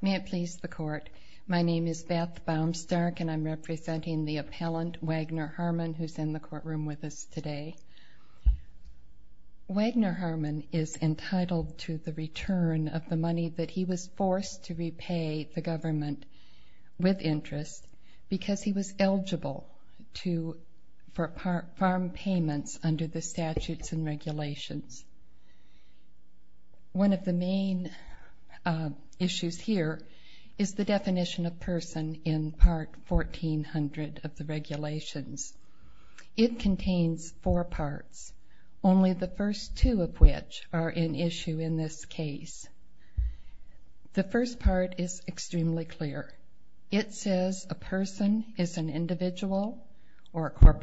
May it please the Court, my name is Beth Baumstark and I'm representing the appellant Wagner Harmon who's in the courtroom with us today. Wagner Harmon is entitled to the return of the money that he was forced to repay the government with interest because he was eligible for farm payments under the main issues here is the definition of person in part 1400 of the regulations. It contains four parts, only the first two of which are in issue in this case. The first part is extremely clear. It says a person is an individual or That's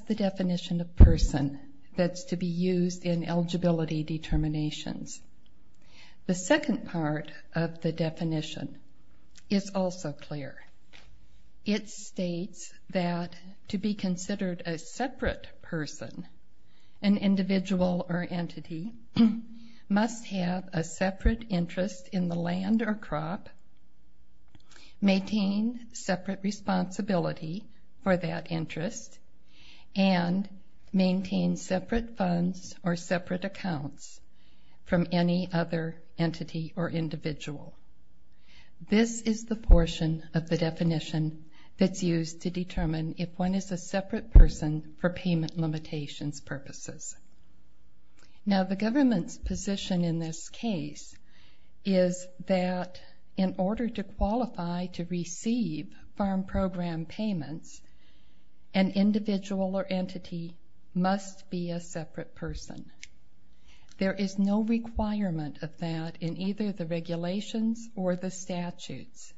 the definition of person that's to be used in eligibility determinations. The second part of the definition is also clear. It states that to be considered a separate person, an individual or entity must have a separate interest in the and maintain separate funds or separate accounts from any other entity or individual. This is the portion of the definition that's used to determine if one is a separate person for payment limitations purposes. Now the government's position in this case is that in order to qualify to receive farm program payments, an individual or entity must be a separate person. There is no requirement of that in either the regulations or the statutes.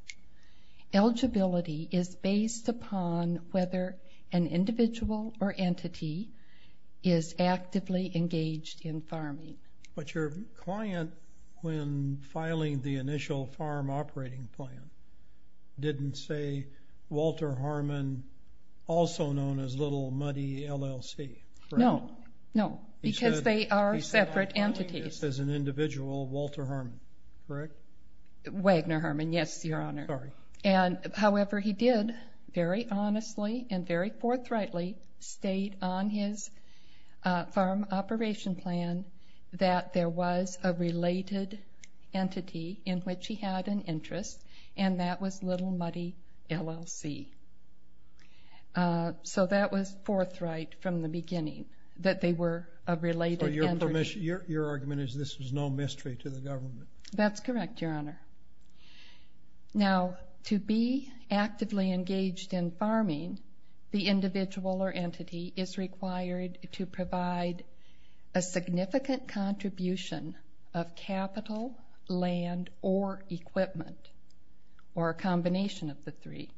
Eligibility is based upon whether an individual or entity is actively engaged in farming. But your client, when filing the initial farm operating plan, didn't say Walter Harmon, also known as Little Muddy, LLC. No, no, because they are separate entities. He said I'm filing this as an individual Walter Harmon, correct? Wagner Harmon, yes, your honor. Sorry. And however, he did very honestly and very forthrightly state on his farm operation plan that there was a related entity in which he had an interest and that was Little Muddy, LLC. So that was forthright from the beginning, that they were a related entity. So your argument is this was no mystery to the government? That's correct, your honor. Now to be actively engaged in farming, the individual or entity is required to provide a significant contribution of capital, land, or equipment, or a combination of the three,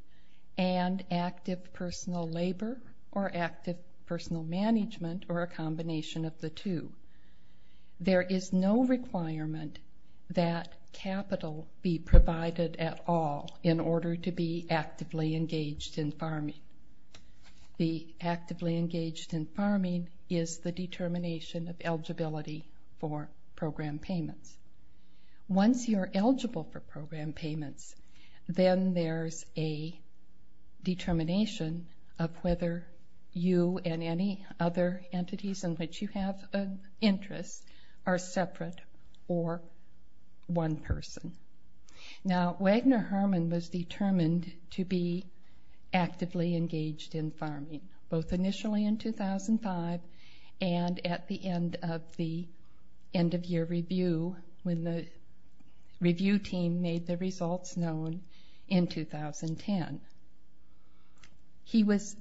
and active personal labor or active personal management or a combination of the two. There is no requirement that capital be provided at all in order to be actively engaged in farming. The actively engaged in farming is the determination of eligibility for program payments. Once you're eligible for program payments, then there's a determination of whether you and any other entities in which you have interest are separate or one person. Now, Wagner Harmon was determined to be actively engaged in farming, both initially in 2005 and at the end of the end of year review when the review team made the results known in 2010. He was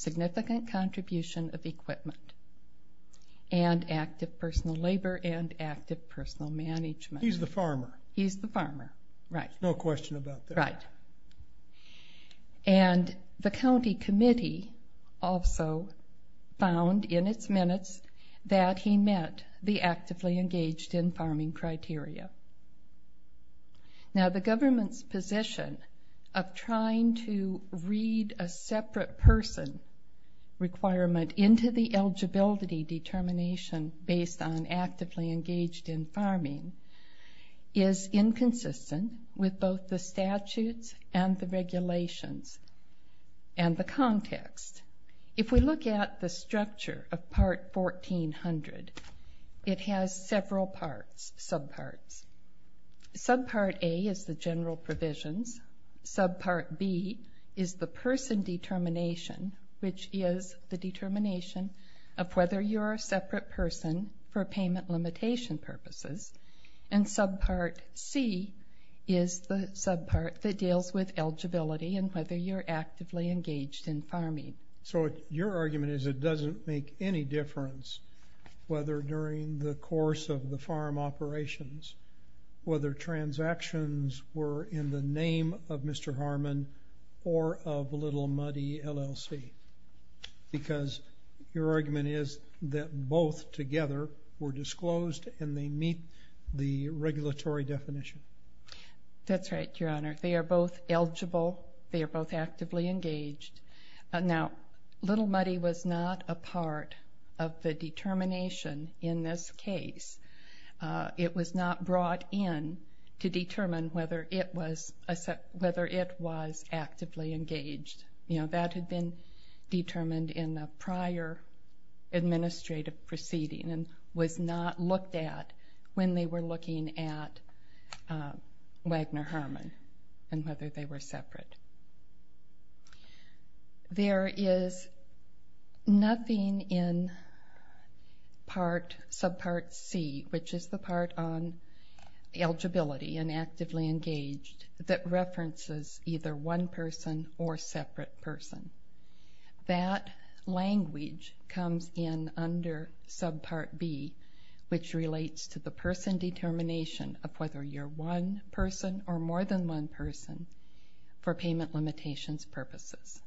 significant contribution of equipment and active personal labor and active personal management. He's the farmer. He's the farmer, right. There's no question about that. Right. And the county committee also found in its minutes that he met the actively engaged in farming criteria. Now the government's position of trying to read a separate person requirement into the eligibility determination based on actively engaged in farming is inconsistent with both the statutes and the regulations and the context. If we look at the structure of all parts, subparts. Subpart A is the general provisions. Subpart B is the person determination, which is the determination of whether you're a separate person for payment limitation purposes. And subpart C is the subpart that deals with eligibility and whether you're actively engaged in farming. So your argument is it doesn't make any difference whether during the course of the farm operations, whether transactions were in the name of Mr. Harmon or of Little Muddy LLC. Because your argument is that both together were disclosed and they meet the regulatory definition. That's right, your honor. They are both eligible. They are both actively engaged. Now Little Muddy was not a part of the determination in this case. It was not brought in to determine whether it was actively engaged. You know, that had been determined in the prior administrative proceeding and was not looked at when they were looking at Wagner-Harmon and whether they were separate. There is nothing in subpart C, which is the part on eligibility and actively engaged, that references either one person or separate person. That language comes in under subpart B, which is one person or more than one person for payment limitations purposes.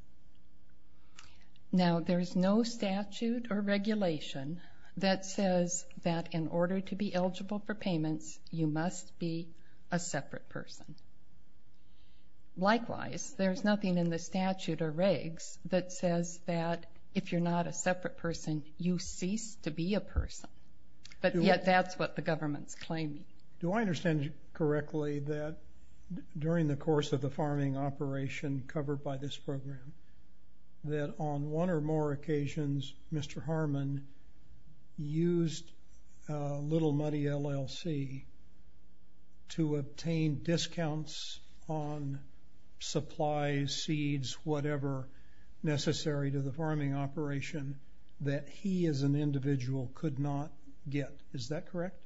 Now there's no statute or regulation that says that in order to be eligible for payments you must be a separate person. Likewise, there's nothing in the statute or regs that says that if you're not a separate person, you cease to be a person. But yet that's what the government's claiming. Do I understand correctly that during the course of the farming operation covered by this program, that on one or more occasions Mr. Harmon used Little Muddy LLC to obtain discounts on supplies, seeds, whatever necessary to the farming operation that he as an individual could not get. Is that correct?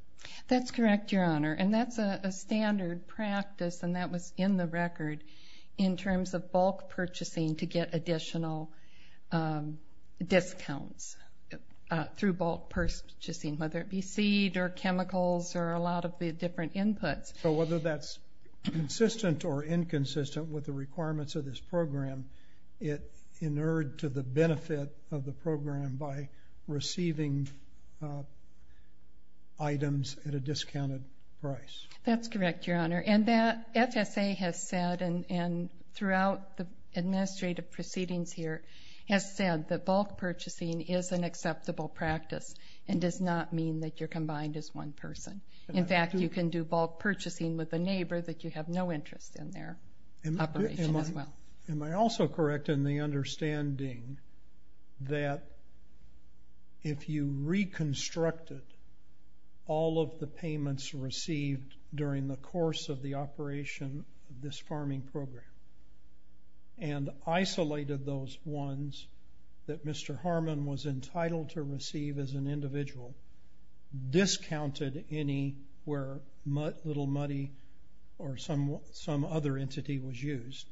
That's correct, Your Honor. And that's a standard practice and that was in the record in terms of bulk purchasing to get additional discounts through bulk purchasing, whether it be seed or chemicals or a lot of the different inputs. So whether that's consistent or inconsistent with the requirements of this program, it inured to the benefit of the program by receiving items at a discounted price. That's correct, Your Honor. And that FSA has said, and throughout the administrative proceedings here, has said that bulk purchasing is an acceptable practice and does not mean that you're combined as one person. In fact, you can do bulk purchasing with a neighbor that you have no interest in their operation as well. Am I also correct in the understanding that if you reconstructed all of the payments received during the course of the operation of this farming program and isolated those ones that Mr. Harmon was entitled to receive as an individual, discounted any where Little Muddy or some other entity was used,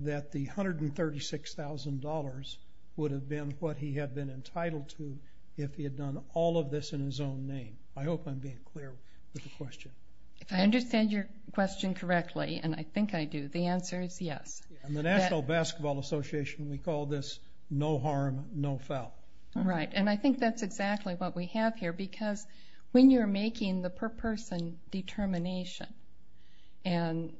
that the $136,000 would have been what he had been entitled to if he had done all of this in his own name? I hope I'm being clear with the question. If I understand your question correctly, and I think I do, the answer is yes. The National Basketball Association, we call this no harm, no foul. Right, and I think that's exactly what we have here because when you're making the per person determination, and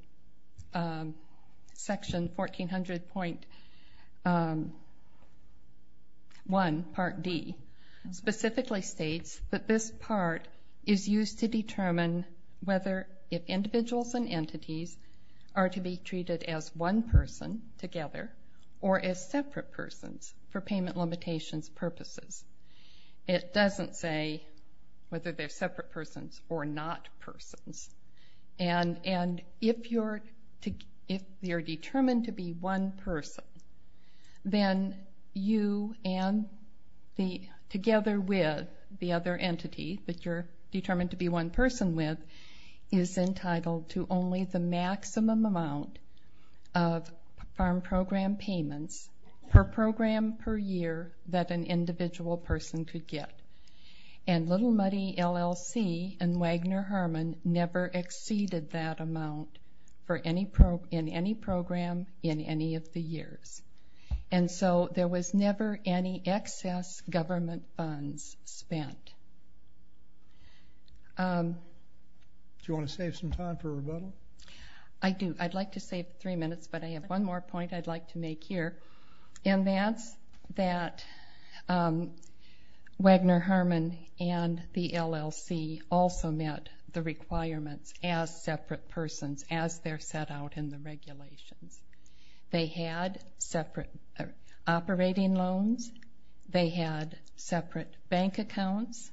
Section 1400.1, Part D, specifically states that this part is used to determine whether if individuals and entities are to be treated as one person together or as separate persons for payment limitations purposes. It doesn't say whether they're separate persons or not persons. And if you're determined to be one person, then you and the together with the other entity that you're determined to be one person with is entitled to only the maximum amount of farm program payments per program per year that an individual person could get. And Little Muddy LLC and Wagner Harmon never exceeded that amount in any program in any of the years. And so there was never any excess government funds spent. Do you want to save some time for rebuttal? I do. I'd like to save three minutes, but I have one more point I'd like to make here. And that's that Wagner Harmon and the LLC also met the requirements as separate persons as they're set out in the regulations. They had separate operating loans. They had separate bank accounts.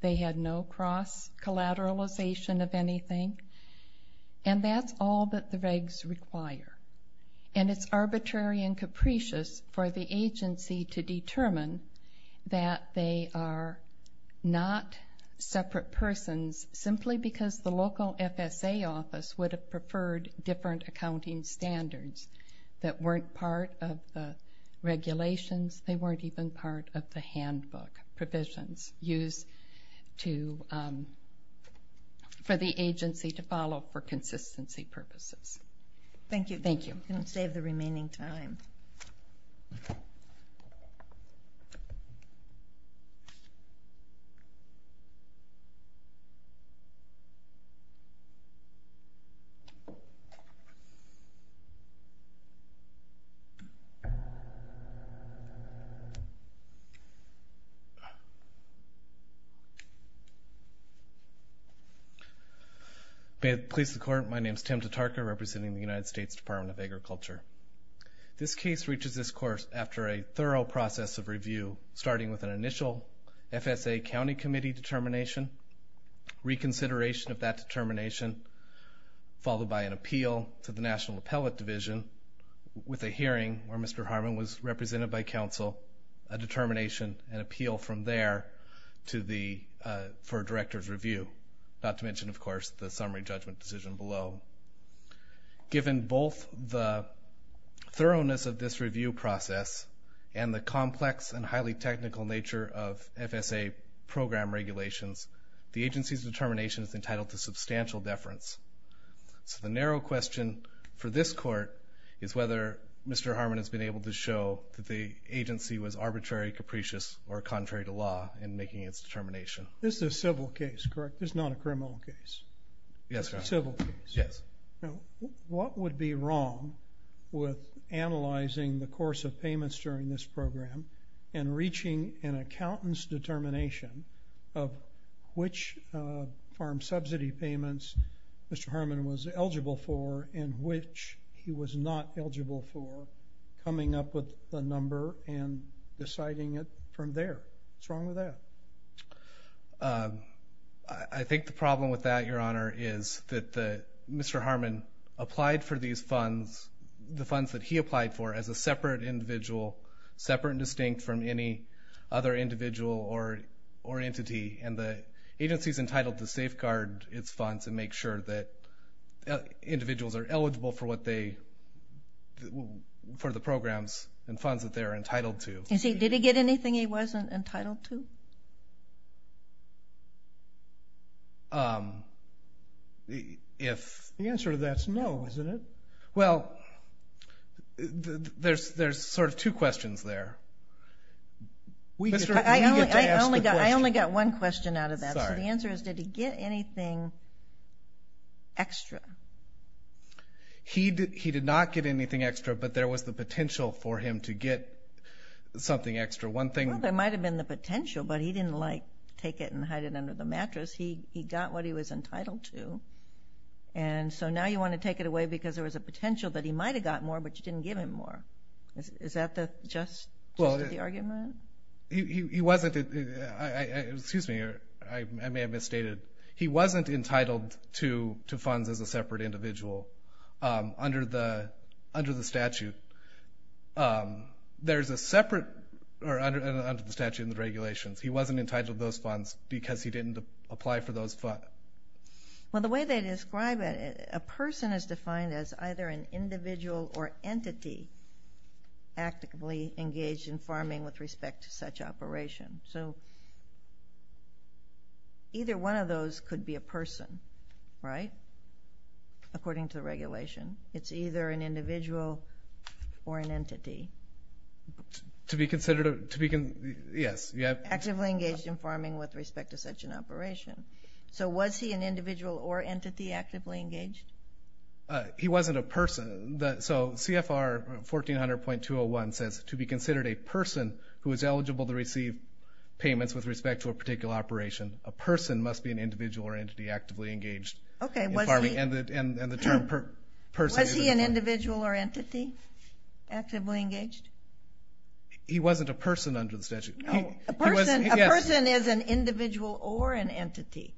They had no cross-collateralization of anything. And that's all that the regs require. And it's arbitrary and capricious for the agency to determine that they are not separate persons simply because the local FSA office would have preferred different accounting standards that weren't part of the regulations. They weren't even part of the handbook provisions used to for the agency to follow for consistency purposes. Thank you. Thank you. I'm going to save the remaining time. May it please the Court, my name is Tim Tatarka, representing the United States Department of Agriculture. This case reaches this course after a thorough process of review, starting with an initial FSA County Committee determination, reconsideration of that determination, followed by an appeal to the National Appellate Division, with a hearing where Mr. Harmon was represented by counsel, a determination, an appeal from there for a director's review, not to mention, of course, the summary judgment decision below. Given both the thoroughness of this review process and the complex and highly technical nature of FSA program regulations, the agency's determination is entitled to substantial deference. So the narrow question for this Court is whether Mr. Harmon has been able to show that the agency was arbitrary, capricious, or contrary to law in making its determination. This is a civil case, correct? This is not a criminal case? Yes, Your Honor. A civil case? Yes. Now, what would be wrong with a county's determination of which farm subsidy payments Mr. Harmon was eligible for and which he was not eligible for, coming up with the number and deciding it from there? What's wrong with that? I think the problem with that, Your Honor, is that Mr. Harmon applied for these funds, the funds that he applied for, as a separate individual, separate and distinct from any other individual or entity, and the agency's entitled to safeguard its funds and make sure that individuals are eligible for what they, for the programs and funds that they're entitled to. Did he get anything he wasn't entitled to? The answer to that is no, isn't it? Well, there's sort of two questions there. I only got one question out of that. The answer is, did he get anything extra? He did not get anything extra, but there was the potential for him to get something extra. Well, there might have been the potential, but he didn't like take it and hide it under the mattress. He got what he was entitled to, and so now you want to take it away because there was a potential that he might have got more, but you didn't give him more. Is that just the argument? He wasn't, excuse me, I may have misstated, he wasn't entitled to the statute and the regulations. He wasn't entitled to those funds because he didn't apply for those funds. Well, the way they describe it, a person is defined as either an individual or entity actively engaged in farming with respect to such operation. So either one of those could be a person, right, according to the statute, or an individual or an entity. To be considered, to be, yes, yeah. Actively engaged in farming with respect to such an operation. So was he an individual or entity actively engaged? He wasn't a person. So CFR 1400.201 says, to be considered a person who is eligible to receive payments with respect to a particular operation, a person must be an individual or entity actively engaged. Okay. And the term person. Was he an individual or entity actively engaged? He wasn't a person under the statute. A person is an individual or an entity.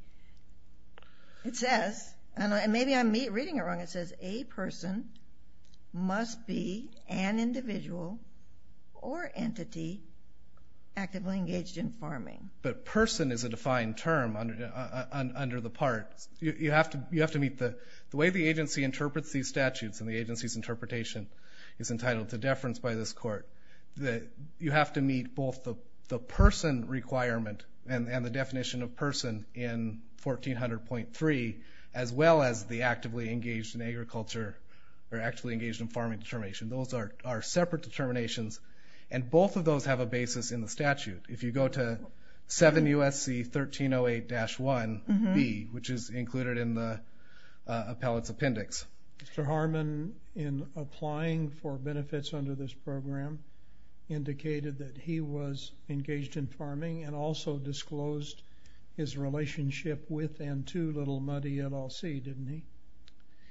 It says, and maybe I'm reading it wrong, it says a person must be an individual or entity actively engaged in farming. But person is a defined term under the part. You have to meet the way the agency interprets these statutes and the agency's interpretation is entitled to deference by this court. You have to meet both the person requirement and the definition of person in 1400.3, as well as the actively engaged in agriculture, or actively engaged in farming determination. Those are separate determinations, and both of those have a basis in the statute. If you go to 7 U.S.C. 1308-1B, which is included in the appellate's appendix. Mr. Harmon, in applying for benefits under this program, indicated that he was engaged in farming and also disclosed his relationship with and to Little Muddy at LC, didn't he?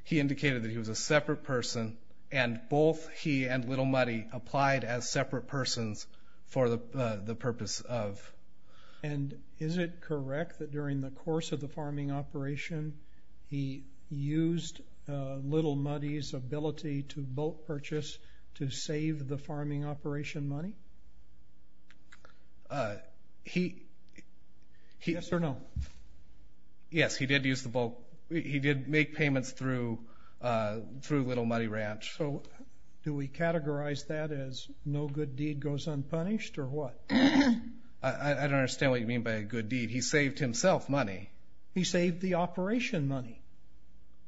He indicated that he was a separate person, and both he and Little Muddy applied as separate persons for the purpose of... And is it correct that during the course of the farming operation, he used Little Muddy's ability to boat purchase to save the farming operation money? He... Yes or no? Yes, he did use the boat. He did make payments through Little Muddy Ranch. So do we categorize that as no good deed goes unpunished, or what? I don't understand what you mean by a good deed. He saved himself money. He saved the operation money.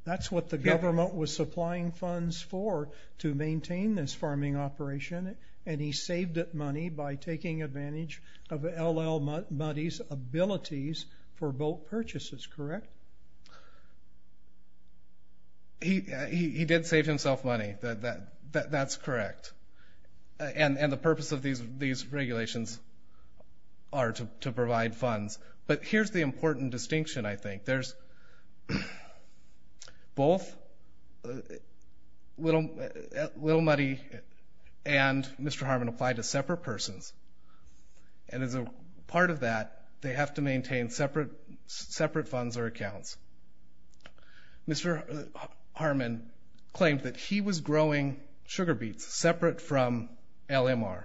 That's what the government was supplying funds for, to maintain this farming operation, and he saved that money by taking advantage of L.L. Muddy's abilities for boat purchases, correct? He did save himself money. That's correct. And the purpose of these regulations are to provide funds, but here's the important distinction, I think. There's... Both Little Muddy and Mr. Harmon applied as separate persons, and as a part of that, they have to maintain separate funds or accounts. Mr. Harmon claimed that he was growing sugar beets separate from LMR,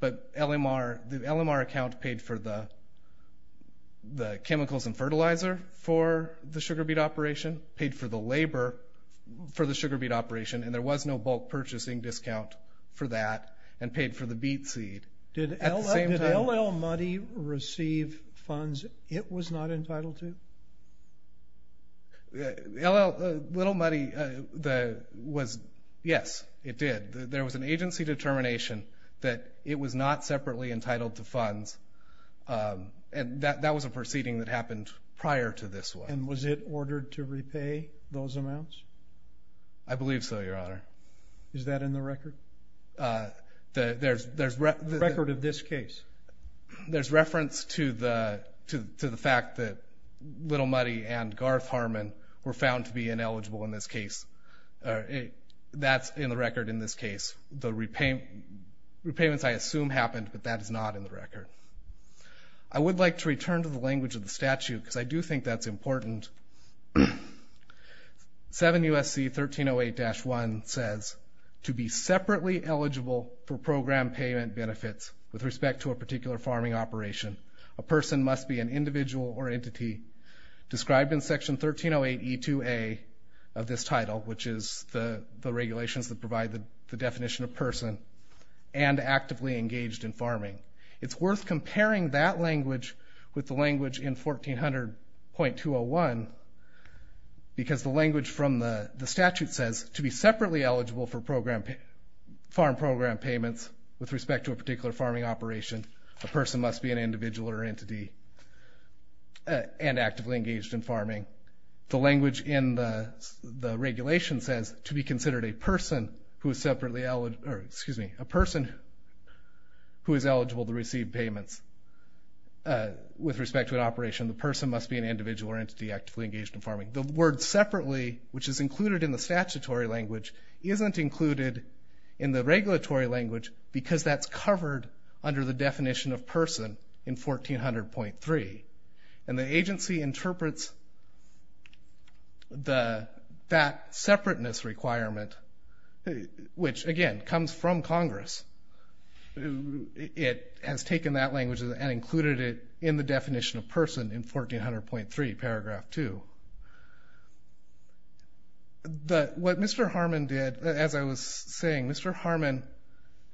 but LMR... The LMR account paid for the chemicals and fertilizer for the sugar beet operation, paid for the labor for the sugar beet operation, and there was no bulk purchasing discount for that, and paid for the beet seed. Did L.L. Muddy receive funds it was not entitled to? L.L. Little Muddy was... Yes, it did. There was an agency determination that it was not separately entitled to funds, and that was a proceeding that happened prior to this one. And was it ordered to repay those amounts? I believe so, Your Honor. Is that in the record? The record of this case? There's reference to the fact that Little Muddy and Garth Harmon were found to be ineligible in this case. That's in the record in this case. The repayments I assume happened, but that is not in the record. I would like to return to the language of the statute, because I do think that's important. 7 U.S.C. 1308-1 says, to be separately eligible for program payment benefits with respect to a particular farming operation, a person must be an individual or entity described in Section 1308E2A of this title, which is the regulations that provide the definition of person, and actively engaged in farming. It's worth comparing that language with the language in 1400.201, because the language from the statute says, to be separately eligible for program, farm program payments with respect to a particular farming operation, a person must be an individual or entity, and actively engaged in farming. The language in the regulation says, to be considered a person who is separately eligible, or excuse me, a person who is eligible to receive payments with respect to an operation, the person must be an individual or entity actively engaged in farming. The word separately, which is included in the statutory language, isn't included in the regulatory language, because that's covered under the definition of person in 1400.3, and the agency interprets that separateness requirement, which again, comes from Congress. It has taken that language and included it in the definition of person in 1400.3, paragraph 2. What Mr. Harmon did, as I was saying, Mr. Harmon,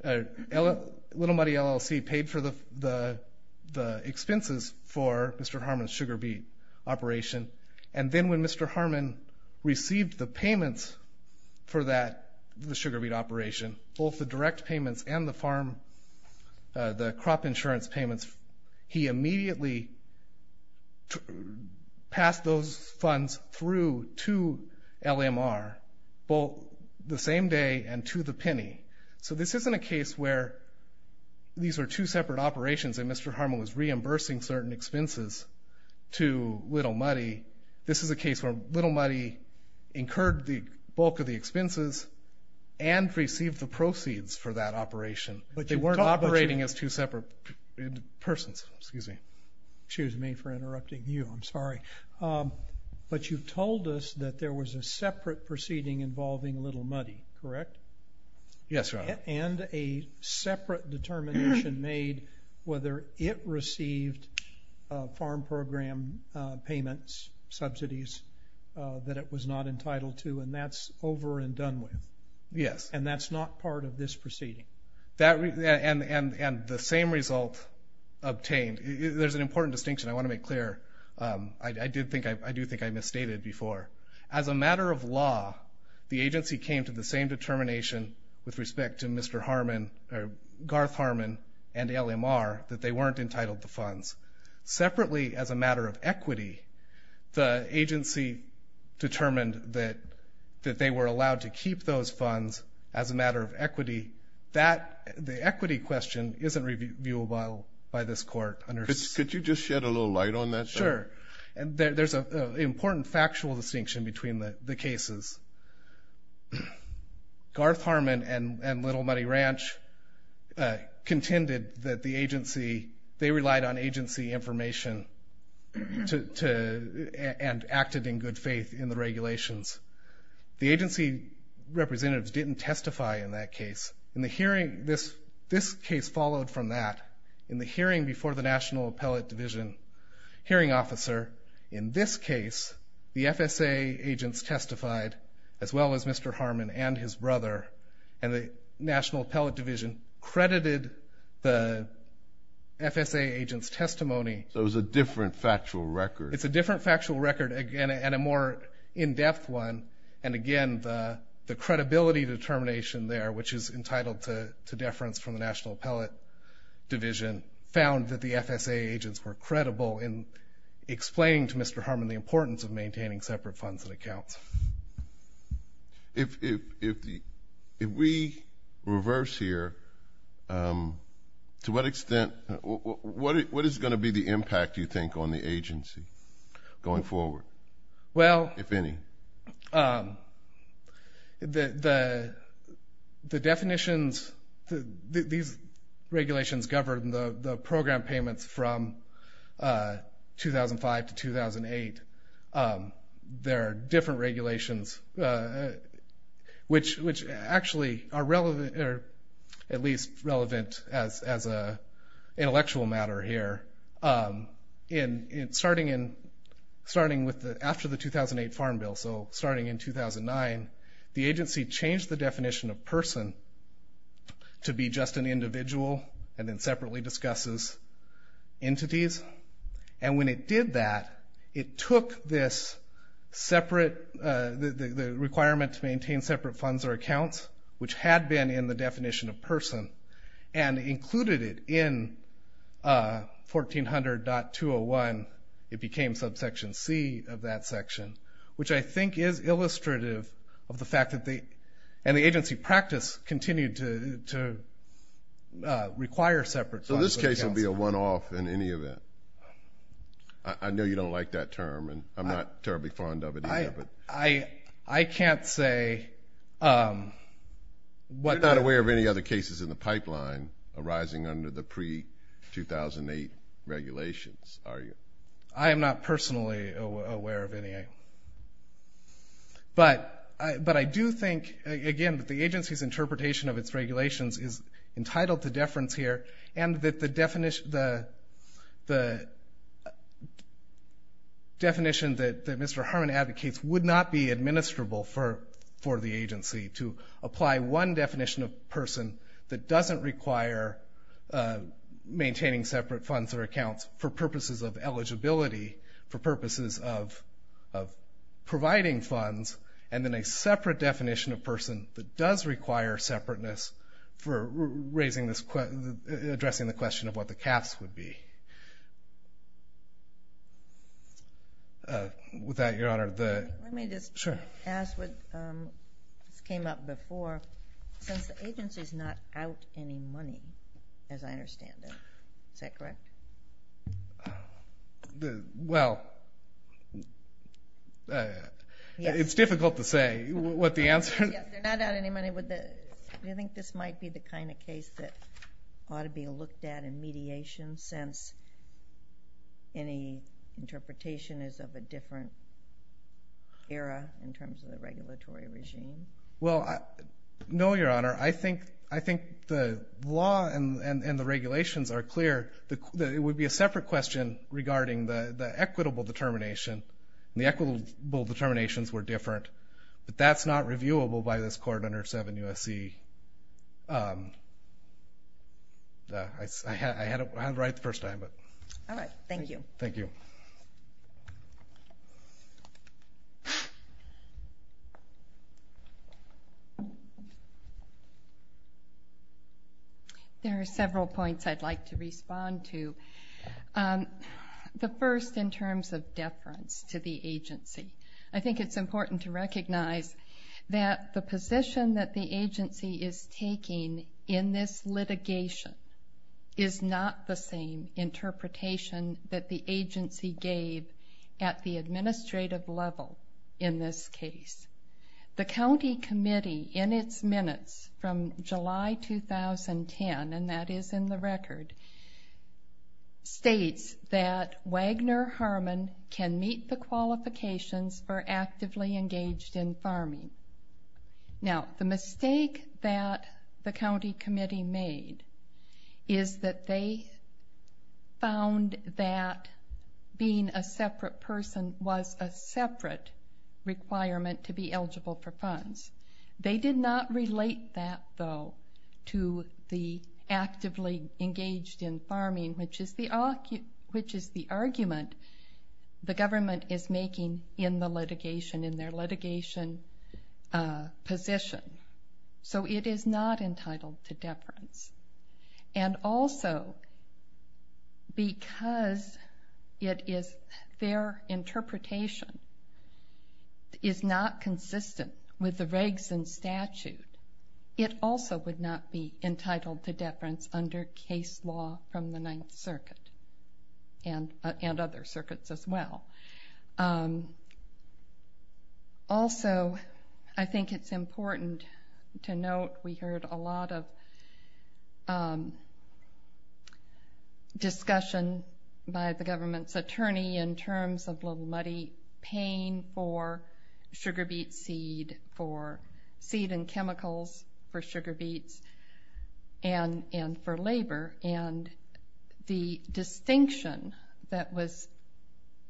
Little Muddy LLC paid for the expenses for Mr. Harmon's sugar beet operation, and then when Mr. Harmon received the payments for the sugar beet operation, both the direct payments and the crop insurance payments, he immediately passed those funds through to LMR, both the same day and to the penny. So this isn't a case where these are two separate operations and Mr. Harmon was reimbursing certain expenses to Little Muddy. This is a case where Little Muddy incurred the bulk of the expenses and received the proceeds for that operation, but they weren't operating as two separate persons, excuse me. Excuse me for interrupting you, I'm sorry, but you've told us that there was a separate proceeding involving Little Muddy, correct? Yes, Your Honor. And a separate determination made whether it received farm program payments, subsidies, that it was not entitled to, and that's over and done with? Yes. And that's not part of this proceeding? That, and the same result obtained, there's an important distinction I want to make clear. I did think I misstated before. As a matter of law, the agency came to the same determination with respect to Mr. Harmon, or Garth Harmon and LMR, that they weren't entitled to funds. Separately, as a matter of equity, the agency determined that they were allowed to keep those funds as a matter of equity. That, the equity question, isn't reviewable by this court. Could you just shed a important factual distinction between the cases? Garth Harmon and Little Muddy Ranch contended that the agency, they relied on agency information to, and acted in good faith in the regulations. The agency representatives didn't testify in that case. In the hearing, this case followed from that. In the case, the FSA agents testified, as well as Mr. Harmon and his brother, and the National Appellate Division credited the FSA agents' testimony. So it was a different factual record? It's a different factual record, again, and a more in-depth one. And again, the credibility determination there, which is entitled to deference from the National Appellate Division, found that the FSA agents were credible in explaining to Mr. Harmon the importance of maintaining separate funds and accounts. If we reverse here, to what extent, what is going to be the impact, you think, on the agency going forward? Well, the definitions, these regulations govern the program payments from 2005 to 2008. There are different regulations, which actually are relevant, or at least relevant, as an intellectual matter here. Starting with, after the definition of person, to be just an individual, and then separately discusses entities. And when it did that, it took this separate, the requirement to maintain separate funds or accounts, which had been in the definition of person, and included it in 1400.201. It became subsection C of that section, which I think is illustrative of the fact that the, and the agency practice continued to require separate funds or accounts. So this case would be a one-off in any event? I know you don't like that term, and I'm not terribly fond of it either, but... I can't say what... You're not aware of any other cases in the pipeline arising under the pre-2008 regulations, are you? I am not personally aware of any. But I do think, again, that the agency's interpretation of its regulations is entitled to deference here, and that the definition that Mr. Harmon advocates would not be administrable for the agency, to apply one definition of person that doesn't require maintaining separate funds or accounts for purposes of eligibility, for purposes of providing funds, and then a separate definition of person that does require separateness for raising this question, addressing the question of what the caps would be. With that, Your Honor, the... Let me just ask what came up before. Since the agency's not out any money, as I understand it, is that correct? Well, it's difficult to say what the answer is. They're not out any money. Do you think this might be the kind of case that ought to be looked at in mediation, since any interpretation is of a different era in terms of the No, Your Honor. I think the law and the regulations are clear. It would be a separate question regarding the equitable determination. The equitable determinations were different, but that's not reviewable by this court under 7 U.S.C. I had it right the first time. There are several points I'd like to respond to. The first, in terms of deference to the agency. I think it's important to recognize that the position that the agency is taking in this litigation is not the same in terms of the agency. The county committee, in its minutes from July 2010, and that is in the record, states that Wagner Harmon can meet the qualifications for actively engaged in farming. Now, the mistake that the county committee made is that they found that being a separate person was a separate requirement to be eligible for funds. They did not relate that, though, to the actively engaged in farming, which is the argument the government is making in the litigation, in their litigation position. It is not entitled to deference. Also, because their interpretation is not consistent with the regs and statute, it also would not be entitled to deference under case law from the Ninth Circuit and other circuits as well. Also, I think it's important to note we heard a lot of discussion by the government's attorney in terms of Little Muddy paying for sugar beet seed, for seed and chemicals for sugar beets, and for labor. The distinction that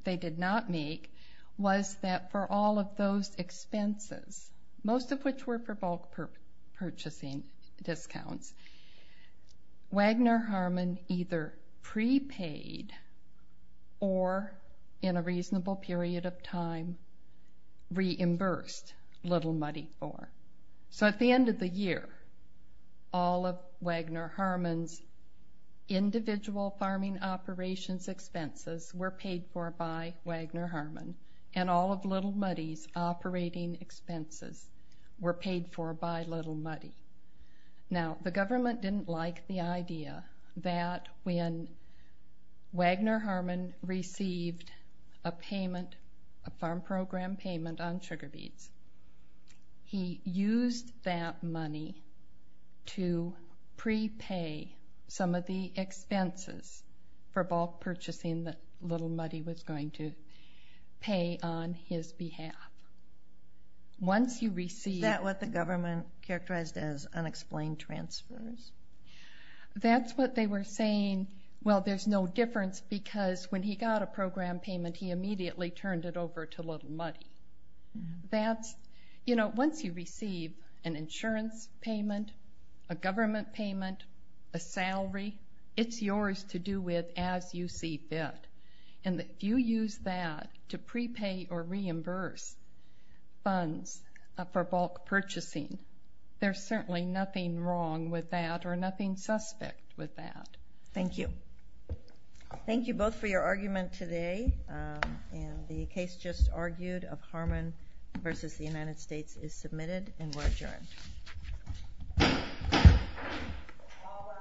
they did not make was that for all of those expenses, most of which were for bulk purchasing discounts, Wagner Harmon either prepaid or, in a reasonable period of time, reimbursed Little Muddy for. So at the end of the year, all of Wagner Harmon's individual farming operations expenses were paid for by Wagner Harmon, and all of Little Muddy's operating expenses were paid for by Little Muddy. Now, the government didn't like the idea that when Wagner Harmon received a farm program payment on sugar beets, he used that money to prepay some of the expenses for bulk purchasing that Little Muddy was going to pay on his behalf. Is that what the government characterized as unexplained transfers? That's what they were saying. Well, there's no difference because when he got a program payment, he immediately turned it over to Little Muddy. Once you receive an insurance payment, a government payment, a salary, it's yours to do with as you see fit. And if you use that to prepay or reimburse funds for bulk purchasing, there's certainly nothing wrong with that or nothing suspect with that. Thank you. Thank you both for your argument today. And the case just argued of Harmon v. The United States is submitted and we're adjourned. All rise.